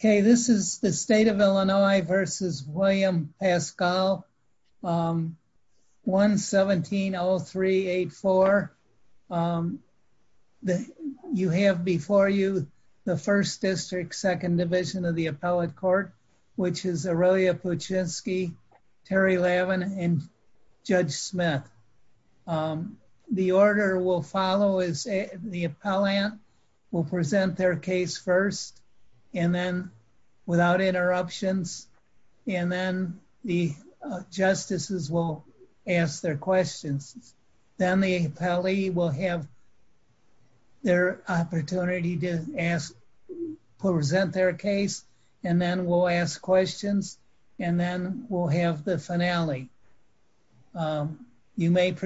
Okay, this is the state of Illinois versus William Pascal, 1-17-0384. You have before you the 1st District, 2nd Division of the Appellate Court, which is Aurelia Puczynski, Terry Lavin, and Judge Smith. The order we'll follow is the appellant will present their case first and then without interruptions, and then the justices will ask their questions. Then the appellee will have their opportunity to present their case, and then we'll ask questions, and then we'll have the May it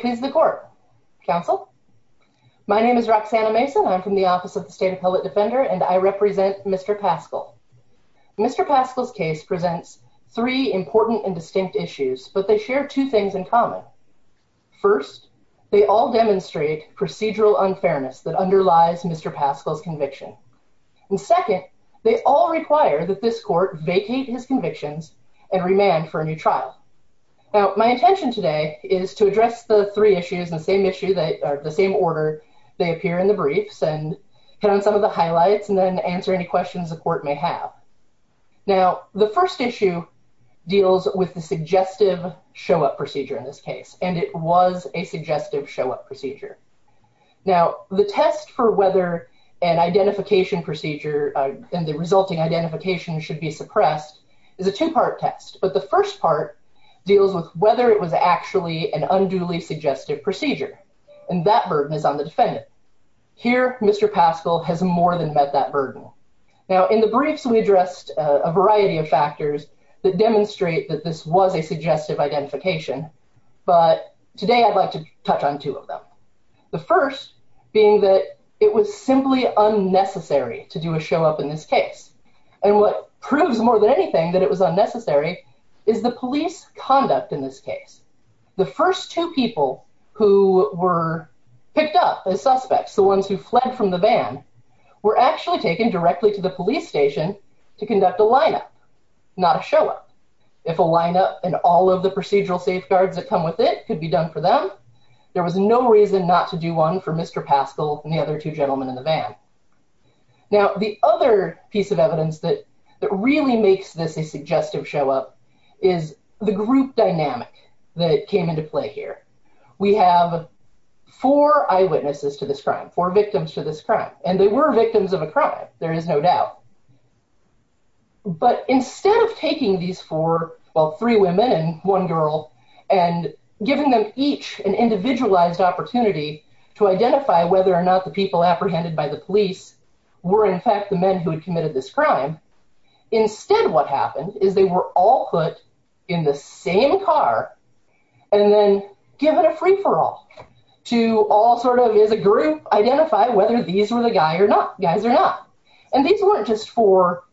please the court. Counsel? My name is Roxanna Mason. I'm from the Office of the State Appellate Defender, and I represent Mr. Pascal. Mr. Pascal's case presents three important and distinct issues, but they share two things in common. First, they all demonstrate procedural unfairness that underlies Mr. Pascal's conviction. And second, they all require that this court vacate his convictions and remand for a new trial. Now, my intention today is to address the three issues in the same issue that are the same order they appear in the briefs and hit on some of the highlights and then answer any questions the court may have. Now, the first issue deals with the suggestive show-up procedure in this case, and it was a suggestive show-up procedure. Now, the test for whether an identification procedure and the is a two-part test, but the first part deals with whether it was actually an unduly suggestive procedure, and that burden is on the defendant. Here, Mr. Pascal has more than met that burden. Now, in the briefs, we addressed a variety of factors that demonstrate that this was a suggestive identification, but today I'd like to touch on two of them, the first being that it was simply unnecessary to do a show-up in this case, and what proves more than anything that it was unnecessary is the police conduct in this case. The first two people who were picked up as suspects, the ones who fled from the van, were actually taken directly to the police station to conduct a lineup, not a show-up. If a lineup and all of the procedural safeguards that come with it could be done for them, there was no reason not to do one for Mr. Pascal and the other two gentlemen in the van. Now, the other piece of evidence that really makes this a suggestive show-up is the group dynamic that came into play here. We have four eyewitnesses to this crime, four victims to this crime, and they were victims of a crime, there is no doubt, but instead of taking these four, well, three women and one girl, and giving them each an apprehended by the police, were in fact the men who had committed this crime, instead what happened is they were all put in the same car and then given a free-for-all to all sort of, as a group, identify whether these were the guys or not, and these weren't just for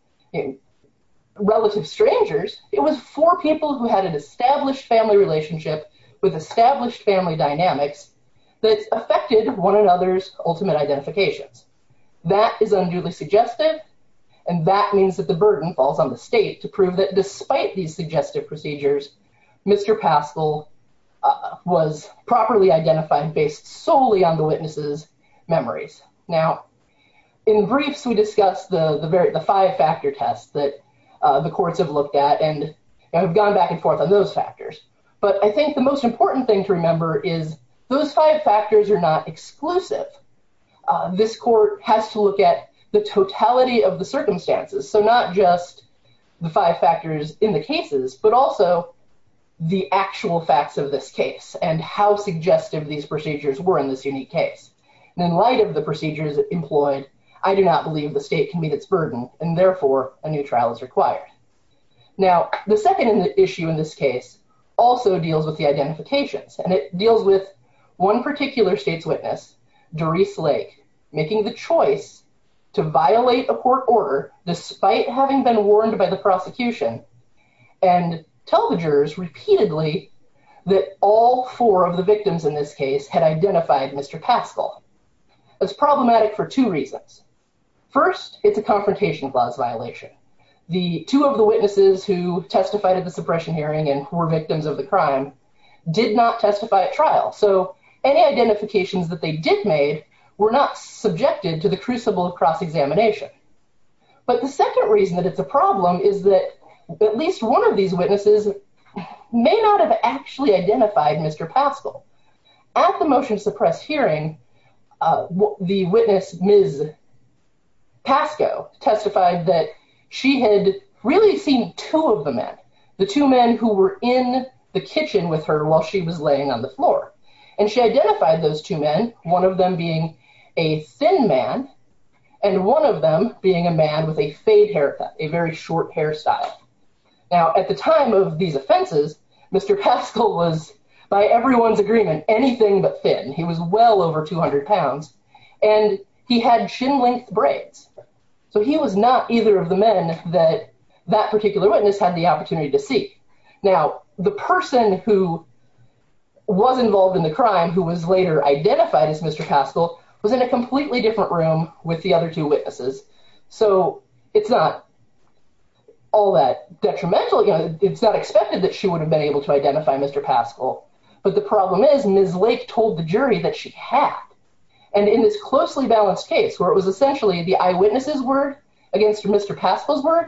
relative strangers, it was four people who had an established family relationship with established family dynamics that affected one another's ultimate identifications. That is unduly suggestive, and that means that the burden falls on the state to prove that, despite these suggestive procedures, Mr. Pascal was properly identified based solely on the witnesses' memories. Now, in briefs we discussed the five-factor test that the courts have looked at, but I think the most important thing to remember is those five factors are not exclusive. This court has to look at the totality of the circumstances, so not just the five factors in the cases, but also the actual facts of this case and how suggestive these procedures were in this unique case, and in light of the procedures employed, I do not believe the state can meet its burden, and therefore a new trial is required. Now, the issue in this case also deals with the identifications, and it deals with one particular state's witness, Doreese Lake, making the choice to violate a court order despite having been warned by the prosecution, and tell the jurors repeatedly that all four of the victims in this case had identified Mr. Pascal. It's problematic for two reasons. First, it's a confrontation clause violation. The two of the witnesses who testified at the suppression hearing and were victims of the crime did not testify at trial, so any identifications that they did make were not subjected to the crucible of cross-examination, but the second reason that it's a problem is that at least one of these witnesses may not have actually identified Mr. Pascal. At the motion suppress hearing, the witness, Ms. Pasco, testified that she had really seen two of the men, the two men who were in the kitchen with her while she was laying on the floor, and she identified those two men, one of them being a thin man, and one of them being a man with a fade haircut, a very short hairstyle. Now, at the time of these offenses, Mr. Pascal was by everyone's agreement anything but thin. He was well over 200 pounds, and he had shin-length braids, so he was not either of the men that that particular witness had the opportunity to see. Now, the person who was involved in the crime who was later identified as Mr. Pascal was in a completely different room with the other two witnesses, so it's not all that detrimental. It's not expected that she would have been able to identify Mr. Pascal, but the problem is Ms. Lake told the jury that she had, and in this closely balanced case where it was essentially the eyewitness's word against Mr. Pascal's word,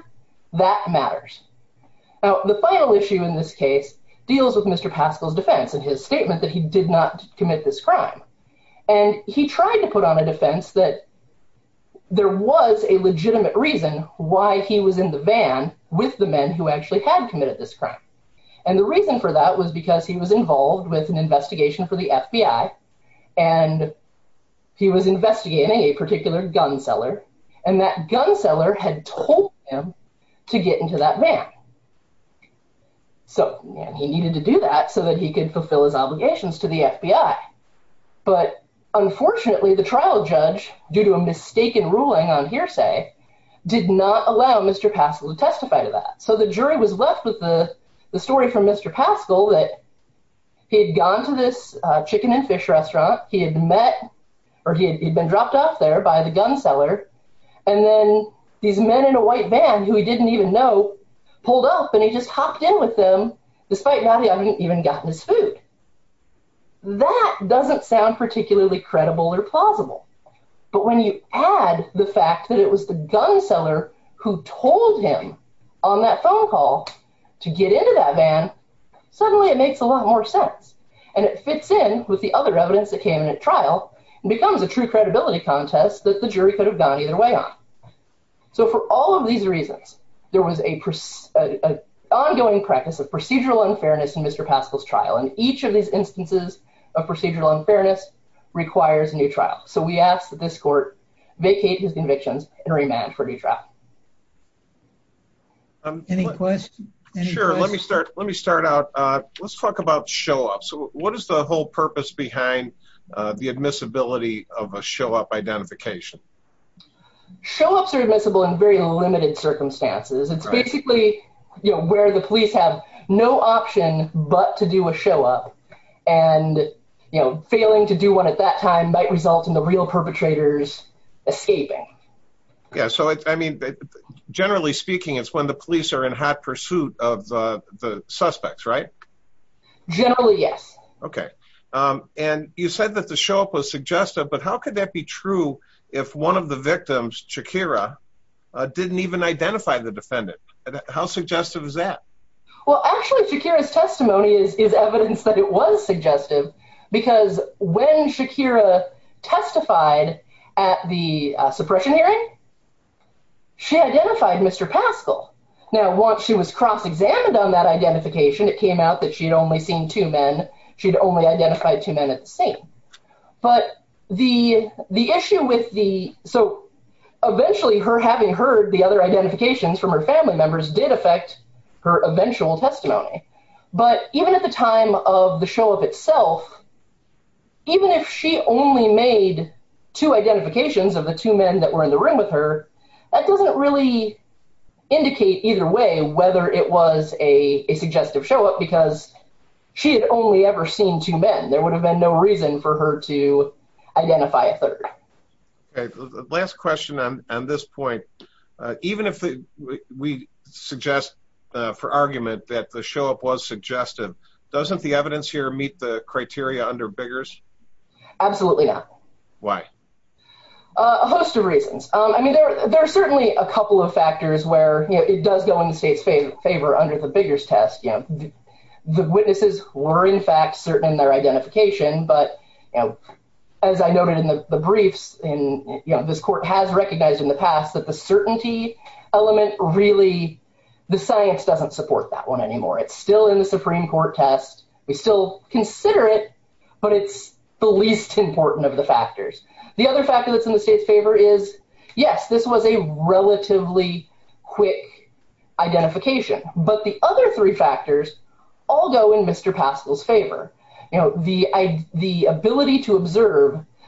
that matters. Now, the final issue in this case deals with Mr. Pascal's defense and his statement that he did not commit this crime, and he tried to put on a defense that there was a legitimate reason why he was in the van with the men who actually had committed this crime, and the reason for that was because he was involved with an investigation for the FBI, and he was investigating a particular gun seller, and that gun seller had told him to get into that van, so he needed to do that so that he could fulfill his obligations to the FBI, but unfortunately the trial judge, due to a mistaken ruling on hearsay, did not allow Mr. Pascal to testify to that, so the jury was left with the story from Mr. Pascal that he had gone to this chicken and fish restaurant, he had met, or he had been dropped off there by the gun seller, and then these men in a white van who he didn't even know pulled up, and he just hopped in with them despite not having even gotten his food. That doesn't sound particularly credible or plausible, but when you add the fact that it was the gun seller who told him on that phone call to get into that van, suddenly it makes a lot more sense, and it fits in with the other evidence that came in at trial, and becomes a true credibility contest that the jury could have gone either way on. So for all of these reasons, there was an ongoing practice of procedural unfairness in Mr. Pascal's case, and procedural unfairness requires a new trial, so we ask that this court vacate his convictions and remand for a new trial. Any questions? Sure, let me start out, let's talk about show-ups. So what is the whole purpose behind the admissibility of a show-up identification? Show-ups are admissible in very limited circumstances. It's basically, you know, where the police have no option but to do a show-up, and you know, failing to do one at that time might result in the real perpetrators escaping. Yeah, so I mean, generally speaking, it's when the police are in hot pursuit of the suspects, right? Generally, yes. Okay, and you said that the show-up was suggestive, but how could that be true if one of the victims, Shakira, didn't even identify the defendant? How suggestive is that? Well, actually, Shakira's testimony is evidence that it was suggestive, because when Shakira testified at the suppression hearing, she identified Mr. Pascal. Now, once she was cross-examined on that identification, it came out that she'd only seen two men, she'd only identified two men at the same, but the issue with the... so eventually, her having heard the other identifications from her family members did affect her eventual testimony, but even at the time of the show-up itself, even if she only made two identifications of the two men that were in the room with her, that doesn't really indicate either way whether it was a suggestive show-up, because she had only ever seen two men. There would have been no reason for her to identify a third. Okay, last question on this point. Even if we suggest for argument that the show-up was suggestive, doesn't the evidence here meet the criteria under Biggers? Absolutely not. Why? A host of reasons. I mean, there are certainly a couple of factors where it does go in the state's favor under the Biggers test. The witnesses were, in fact, certain in their beliefs. This court has recognized in the past that the certainty element, really, the science doesn't support that one anymore. It's still in the Supreme Court test. We still consider it, but it's the least important of the factors. The other factor that's in the state's favor is, yes, this was a relatively quick identification, but the other three factors all go in Mr.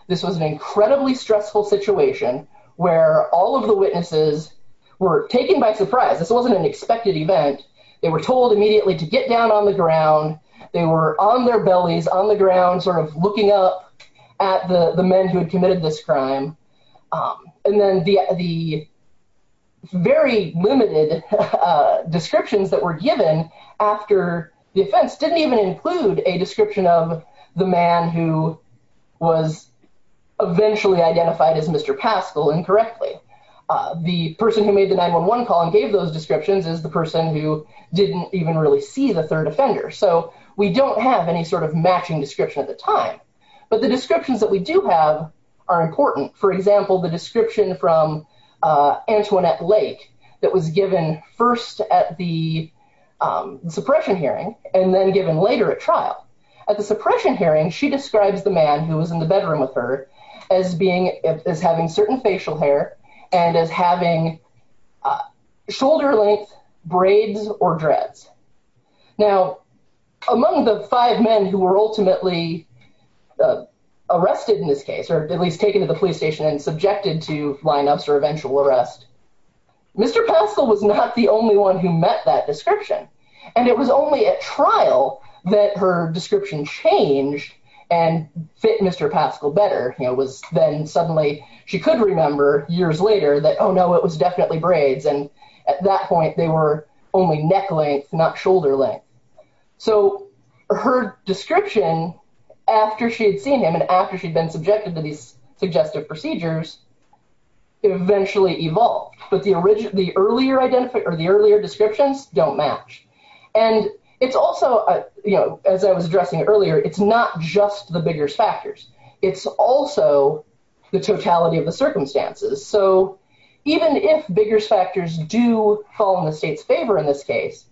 This was an incredibly stressful situation where all of the witnesses were taken by surprise. This wasn't an expected event. They were told immediately to get down on the ground. They were on their bellies, on the ground, sort of looking up at the men who had committed this crime. And then the very limited descriptions that were given after the offense didn't even include a was eventually identified as Mr. Paschal incorrectly. The person who made the 911 call and gave those descriptions is the person who didn't even really see the third offender. So, we don't have any sort of matching description at the time. But the descriptions that we do have are important. For example, the description from Antoinette Lake that was given first at the suppression hearing and then given later at trial. At the suppression hearing, she describes the man who was in the bedroom with her as having certain facial hair and as having shoulder length braids or dreads. Now, among the five men who were ultimately arrested in this case, or at least taken to the police station and subjected to lineups or eventual arrest, Mr. Paschal was not the only one who met that description. And it was only at trial that her description changed and fit Mr. Paschal better. It was then suddenly she could remember years later that, oh no, it was definitely braids. And at that point, they were only neck length, not shoulder length. So, her description after she had seen him and after she'd been subjected to these suggestive procedures eventually evolved. But the earlier descriptions don't match. And it's also, you know, as I was addressing earlier, it's not just the bigger factors. It's also the totality of the circumstances. So, even if bigger factors do fall in the state's favor in this case,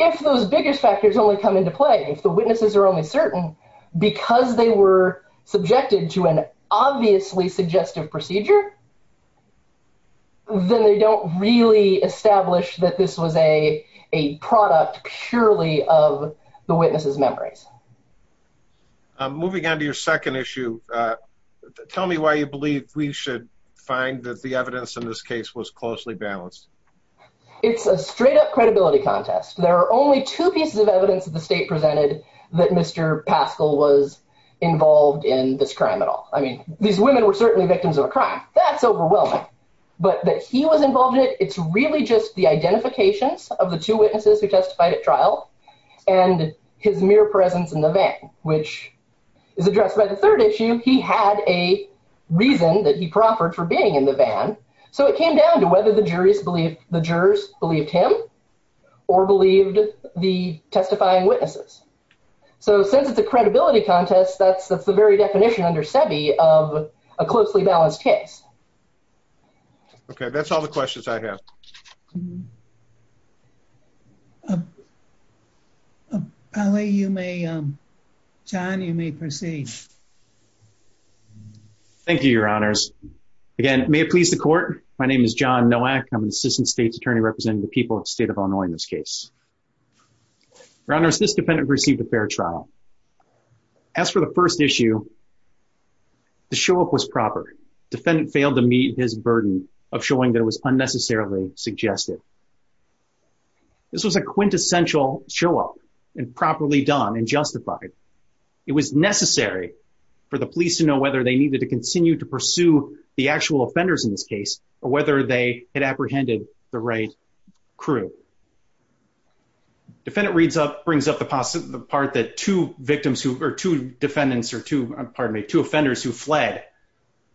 if those bigger factors only come into play, if the witnesses are only certain because they were subjected to an obviously suggestive procedure, then they don't really establish that this was a product purely of the witnesses' memories. Moving on to your second issue, tell me why you believe we should find that the evidence in this case was closely balanced. It's a straight up credibility contest. There are only two pieces of evidence that the state presented that Mr. Paschal was involved in this crime at all. I mean, women were certainly victims of a crime. That's overwhelming. But that he was involved in it, it's really just the identifications of the two witnesses who testified at trial and his mere presence in the van, which is addressed by the third issue. He had a reason that he proffered for being in the van. So, it came down to whether the jurors believed him or believed the testifying witnesses. So, since it's a credibility contest, that's the very a closely balanced test. Okay, that's all the questions I have. Polly, you may, John, you may proceed. Thank you, your honors. Again, may it please the court, my name is John Nowak. I'm an assistant state's attorney representing the people of the state of Illinois in this case. Your honors, this defendant received a fair trial. As for the defendant, the show up was proper. Defendant failed to meet his burden of showing that it was unnecessarily suggested. This was a quintessential show up and properly done and justified. It was necessary for the police to know whether they needed to continue to pursue the actual offenders in this case or whether they had apprehended the right crew. Defendant reads up, brings up the part that two victims who, or two defendants or two, offenders who fled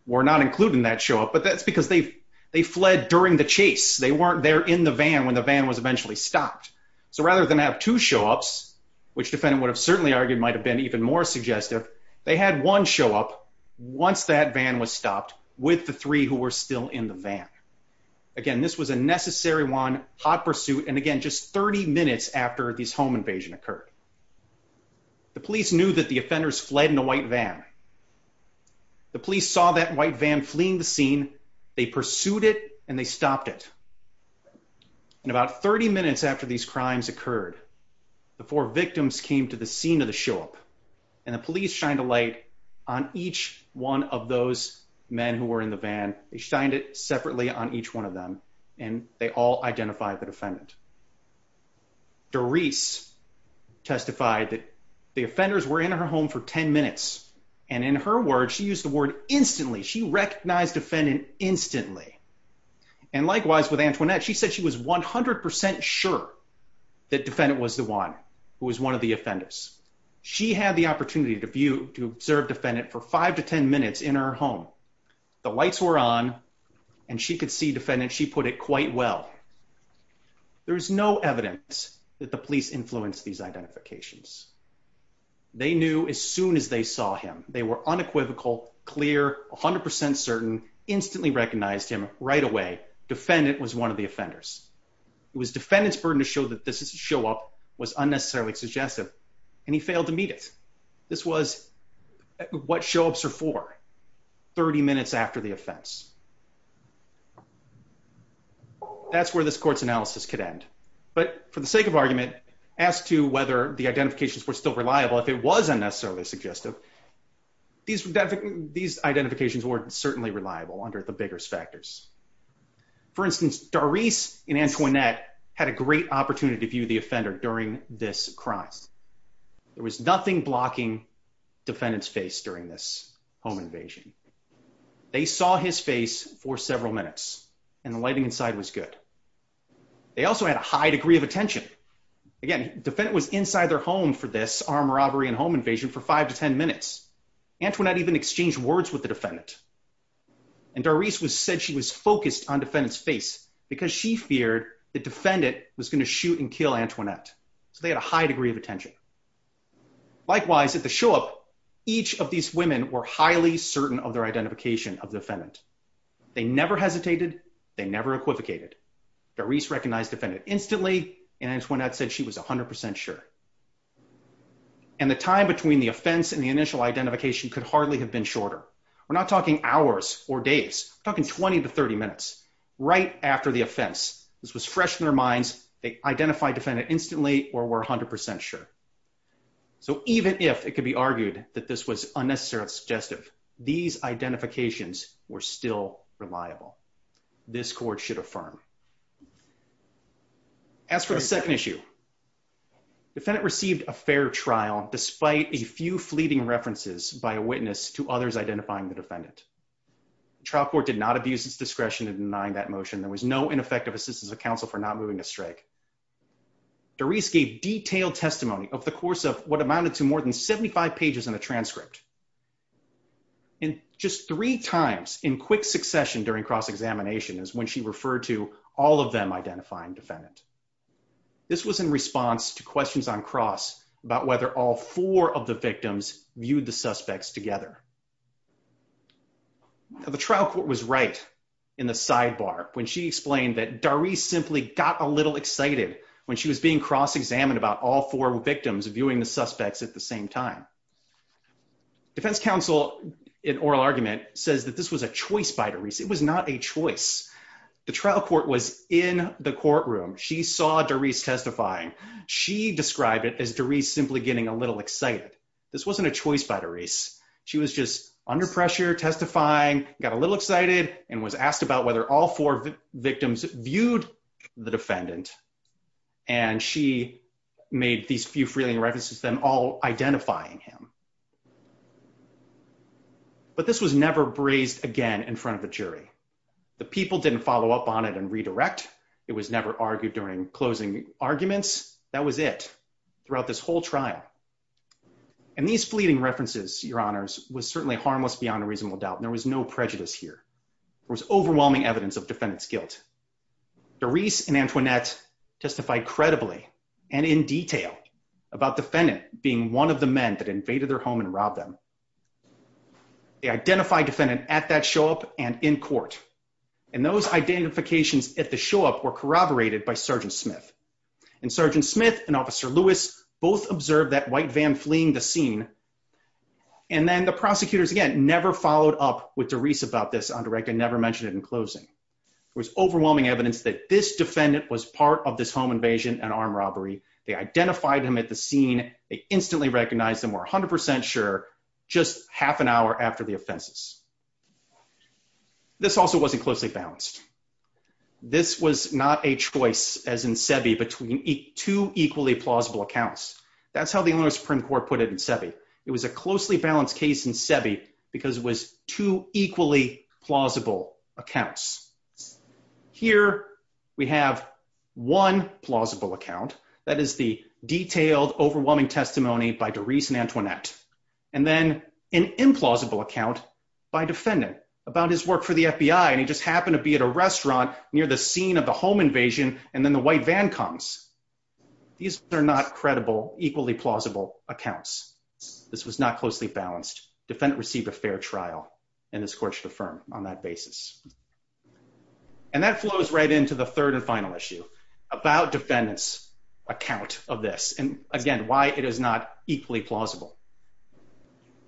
were not included in that show up, but that's because they fled during the chase. They weren't there in the van when the van was eventually stopped. So, rather than have two show ups, which defendant would have certainly argued might have been even more suggestive, they had one show up once that van was stopped with the three who were still in the van. Again, this was a necessary one, hot pursuit, and again, just 30 minutes after this home invasion occurred. The police knew that the offenders fled in a white van. The police saw that white van fleeing the scene. They pursued it and they stopped it. In about 30 minutes after these crimes occurred, the four victims came to the scene of the show up and the police shined a light on each one of those men who were in the van. They shined it that the offenders were in her home for 10 minutes. And in her words, she used the word instantly. She recognized defendant instantly. And likewise with Antoinette, she said she was 100% sure that defendant was the one who was one of the offenders. She had the opportunity to view, to observe defendant for five to 10 minutes in her home. The lights were on and she could see it quite well. There's no evidence that the police influenced these identifications. They knew as soon as they saw him, they were unequivocal, clear, 100% certain, instantly recognized him right away. Defendant was one of the offenders. It was defendant's burden to show that this is a show up was unnecessarily suggestive. And he failed to meet this was what show ups are for 30 minutes after the offense. That's where this court's analysis could end. But for the sake of argument, as to whether the identifications were still reliable, if it was unnecessarily suggestive, these identifications weren't certainly reliable under the biggest factors. For instance, Darice and Antoinette had a great opportunity to view the offender during this crime. There was nothing blocking defendant's face during this home invasion. They saw his face for several minutes and the lighting inside was good. They also had a high degree of attention. Again, defendant was inside their home for this armed robbery and home invasion for five to 10 minutes. Antoinette even exchanged words with the defendant. And Darice said she was focused on defendant's face because she feared the defendant was going to shoot and kill Antoinette. So they had a high degree of attention. Likewise, at the show up, each of these women were highly certain of their identification of defendant. They never hesitated. They never equivocated. Darice recognized defendant instantly and Antoinette said she was 100% sure. And the time between the offense and the initial identification could hardly have been shorter. We're not talking hours or days, talking 20 to 30 minutes, right after the offense. This was fresh in their minds. They identified defendant instantly or were 100% sure. So even if it could be argued that this was unnecessarily suggestive, these identifications were still reliable. This court should affirm. As for the second issue, defendant received a fair trial despite a few fleeting references by a witness to others identifying the defendant. Trial court did not abuse its discretion in denying that motion. There was no ineffective assistance of counsel for not moving to strike. Darice gave detailed testimony of the course of what amounted to more than 75 pages in a transcript. And just three times in quick succession during cross-examination is when she referred to all of them identifying defendant. This was in response to questions on cross about whether all four of the victims viewed the suspects together. Now the trial court was right in the sidebar when she explained that Darice simply got a little excited when she was being cross-examined about all four victims viewing the suspects at the same time. Defense counsel in oral argument says that this was a choice by Darice. It was not a choice. The trial court was in the courtroom. She saw Darice testifying. She described it as Darice simply getting a little excited. This wasn't a choice by Darice. She was just under pressure, testifying, got a little excited, and was asked about whether all four victims viewed the defendant. And she made these few fleeting references to them all identifying him. But this was never brazed again in front of a jury. The people didn't follow up on it and redirect. It was never argued during closing arguments. That was it throughout this whole trial. And these fleeting references, your honors, was certainly harmless beyond a reasonable doubt. There was no prejudice here. There was overwhelming evidence of defendant's guilt. Darice and Antoinette testified credibly and in detail about defendant being one of the men that invaded their home and robbed them. They identified defendant at that show up and in court. And those identifications at the show up were corroborated by Sgt. Smith. And Sgt. Smith and Officer Lewis both observed that white van fleeing the scene. And then the prosecutors again never followed up with Darice about this on direct and never mentioned it in closing. There was overwhelming evidence that this defendant was part of this home invasion and armed robbery. They identified him at the scene. They instantly recognized him. Were 100% sure just half an hour after the offenses. This also wasn't closely balanced. This was not a choice as in SEBI between two equally plausible accounts. That's how the Illinois Supreme Court put it in SEBI. It was a closely balanced case in SEBI because it was two equally plausible accounts. Here we have one plausible account. That is the detailed overwhelming testimony by Darice and Antoinette. And then an implausible account by defendant about his work for the FBI. And he just happened to be at a restaurant near the scene of the home invasion. And then the white van comes. These are not credible equally plausible accounts. This was not closely balanced. Defendant received a fair trial. And this court should affirm on that basis. And that flows right into the third and final issue about defendant's account of this. And again, why it is not equally plausible.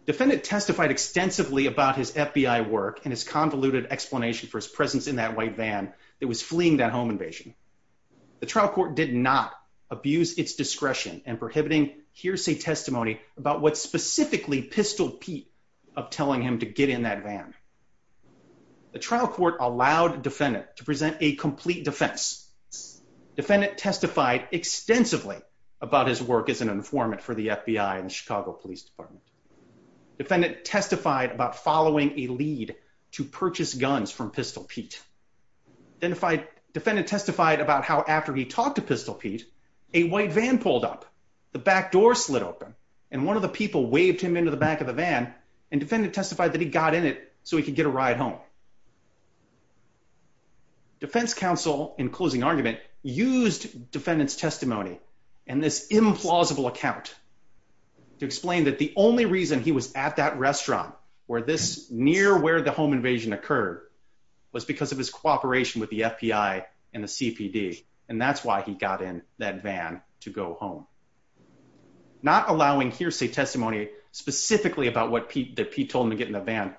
Defendant testified extensively about his FBI work and his convoluted explanation for his presence in that white van that was fleeing that home invasion. The trial court did not abuse its discretion and prohibiting hearsay testimony about what specifically pistol Pete of telling him to get in that van. The trial court allowed defendant to present a complete defense. Defendant testified extensively about his work as an informant for the FBI and Chicago Police Department. Defendant testified about following a lead to purchase guns from pistol Pete. Defendant testified about how after he talked to pistol Pete, a white van pulled up. The back door slid open and one of the people waved him into the back of the defense counsel in closing argument used defendants testimony and this implausible account to explain that the only reason he was at that restaurant where this near where the home invasion occurred was because of his cooperation with the FBI and the CPD. And that's why he got in that van to go home. Not allowing hearsay testimony specifically about what Pete told him to get in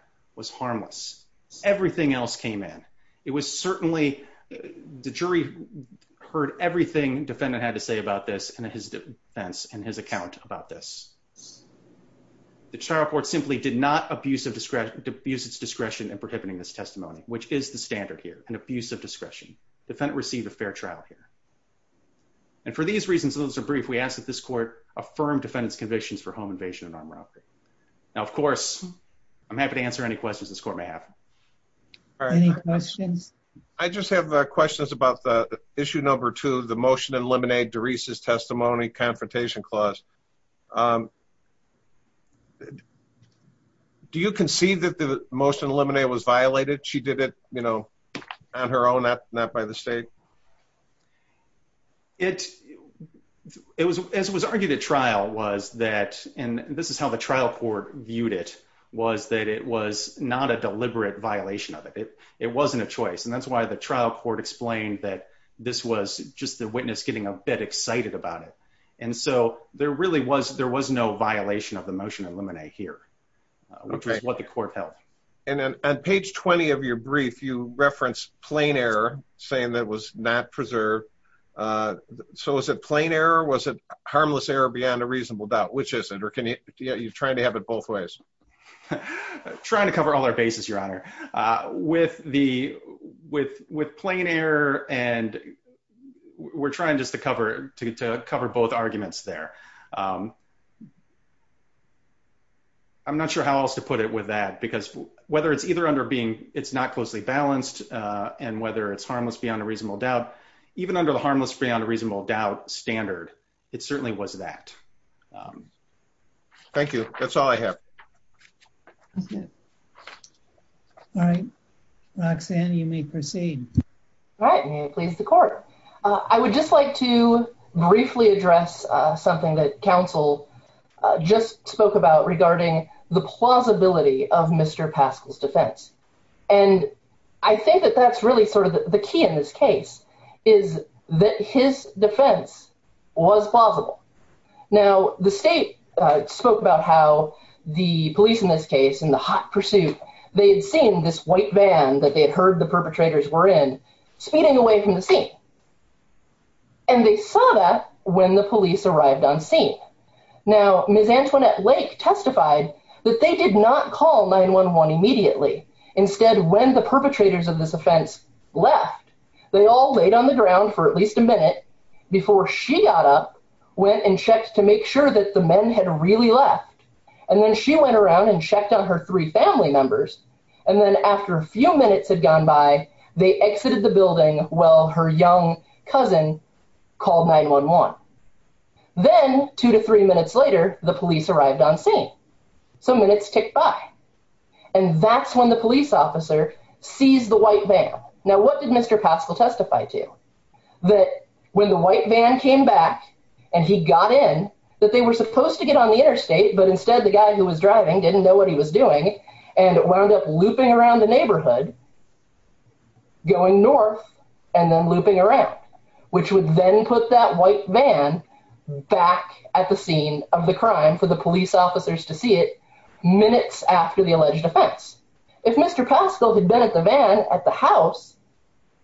everything else came in. It was certainly the jury heard everything defendant had to say about this and his defense and his account about this. The trial court simply did not abuse of discretion to abuse its discretion and prohibiting this testimony which is the standard here an abuse of discretion. Defendant received a fair trial here and for these reasons those are brief we ask that this court affirm defendants convictions for home invasion and armed robbery. Now of course I'm happy to answer any questions this court may have. All right any questions? I just have questions about the issue number two the motion to eliminate Doresa's testimony confrontation clause. Do you concede that the motion eliminated was violated? She did it you know on her own not not by the state? It it was as it was argued at trial was that and this is how the trial court viewed it was that it was not a deliberate violation of it. It it wasn't a choice and that's why the trial court explained that this was just the witness getting a bit excited about it. And so there really was there was no violation of the motion eliminate here which is what the court held. And then on page 20 of your brief you reference plain error saying that was not preserved. So is it plain error was it harmless error beyond a reasonable doubt which isn't or can you yeah you're trying to have it both ways? Trying to cover all our bases your honor. With the with with plain error and we're trying just to cover to cover both arguments there. I'm not sure how else to put it with that because whether it's either under being it's not closely balanced and whether it's harmless beyond a reasonable doubt even under the harmless beyond a reasonable doubt standard it certainly was that. Thank you that's all I have. All right Roxanne you may proceed. All right may it please the court. I would just like to briefly address something that counsel just spoke about regarding the plausibility of Mr. Key in this case is that his defense was plausible. Now the state spoke about how the police in this case in the hot pursuit they had seen this white van that they had heard the perpetrators were in speeding away from the scene and they saw that when the police arrived on scene. Now Ms. Antoinette Lake testified that they did not call 9-1-1 immediately instead when the perpetrators of this offense left they all laid on the ground for at least a minute before she got up went and checked to make sure that the men had really left and then she went around and checked on her three family members and then after a few minutes had gone by they exited the building while her young cousin called 9-1-1. Then two to three minutes later the police arrived on scene some minutes ticked by and that's when the police officer seized the white van. Now what did Mr. Paschal testify to that when the white van came back and he got in that they were supposed to get on the interstate but instead the guy who was driving didn't know what he was doing and wound up looping around the neighborhood going north and then looping around which would then put that white van back at the scene of the crime for the police officers to see it minutes after the alleged offense. If Mr. Paschal had been at the van at the house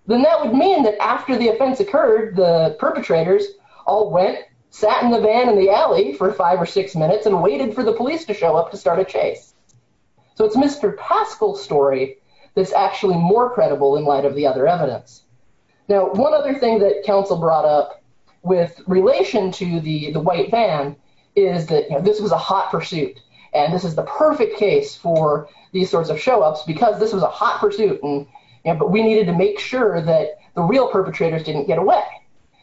then that would mean that after the offense occurred the perpetrators all went sat in the van in the alley for five or six minutes and waited for the police to show up to start a chase. So it's Mr. Paschal's story that's actually more credible in light of the other evidence. Now one other thing that council brought up with relation to the the white van is that you know this was a hot pursuit and this is the perfect case for these sorts of show-ups because this was a hot pursuit and you know but we needed to make sure that the real perpetrators didn't get away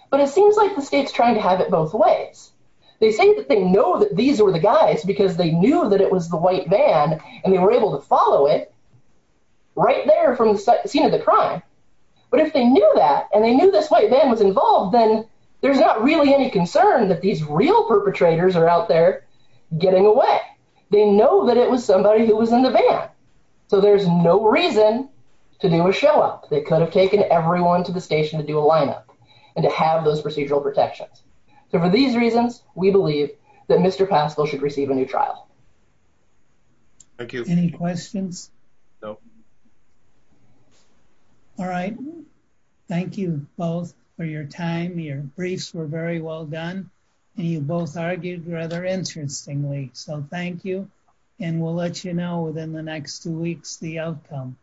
but it seems like the state's trying to have it both ways. They say that they know that these were the guys because they knew that it was the white van and they were able to follow it right there from the scene of the crime but if they knew that and they knew this white van was involved then there's not really any concern that these real perpetrators are out there getting away. They know that it was somebody who was in the van so there's no reason to do a show-up. They could have taken everyone to the station to do a lineup and to have those procedural protections. So for these reasons we believe that Mr. Paschal should receive a new trial. Thank you. Any questions? No. All right thank you both for your time. Your briefs were very well done and you both argued rather interestingly so thank you and we'll let you know within the next two weeks the outcome.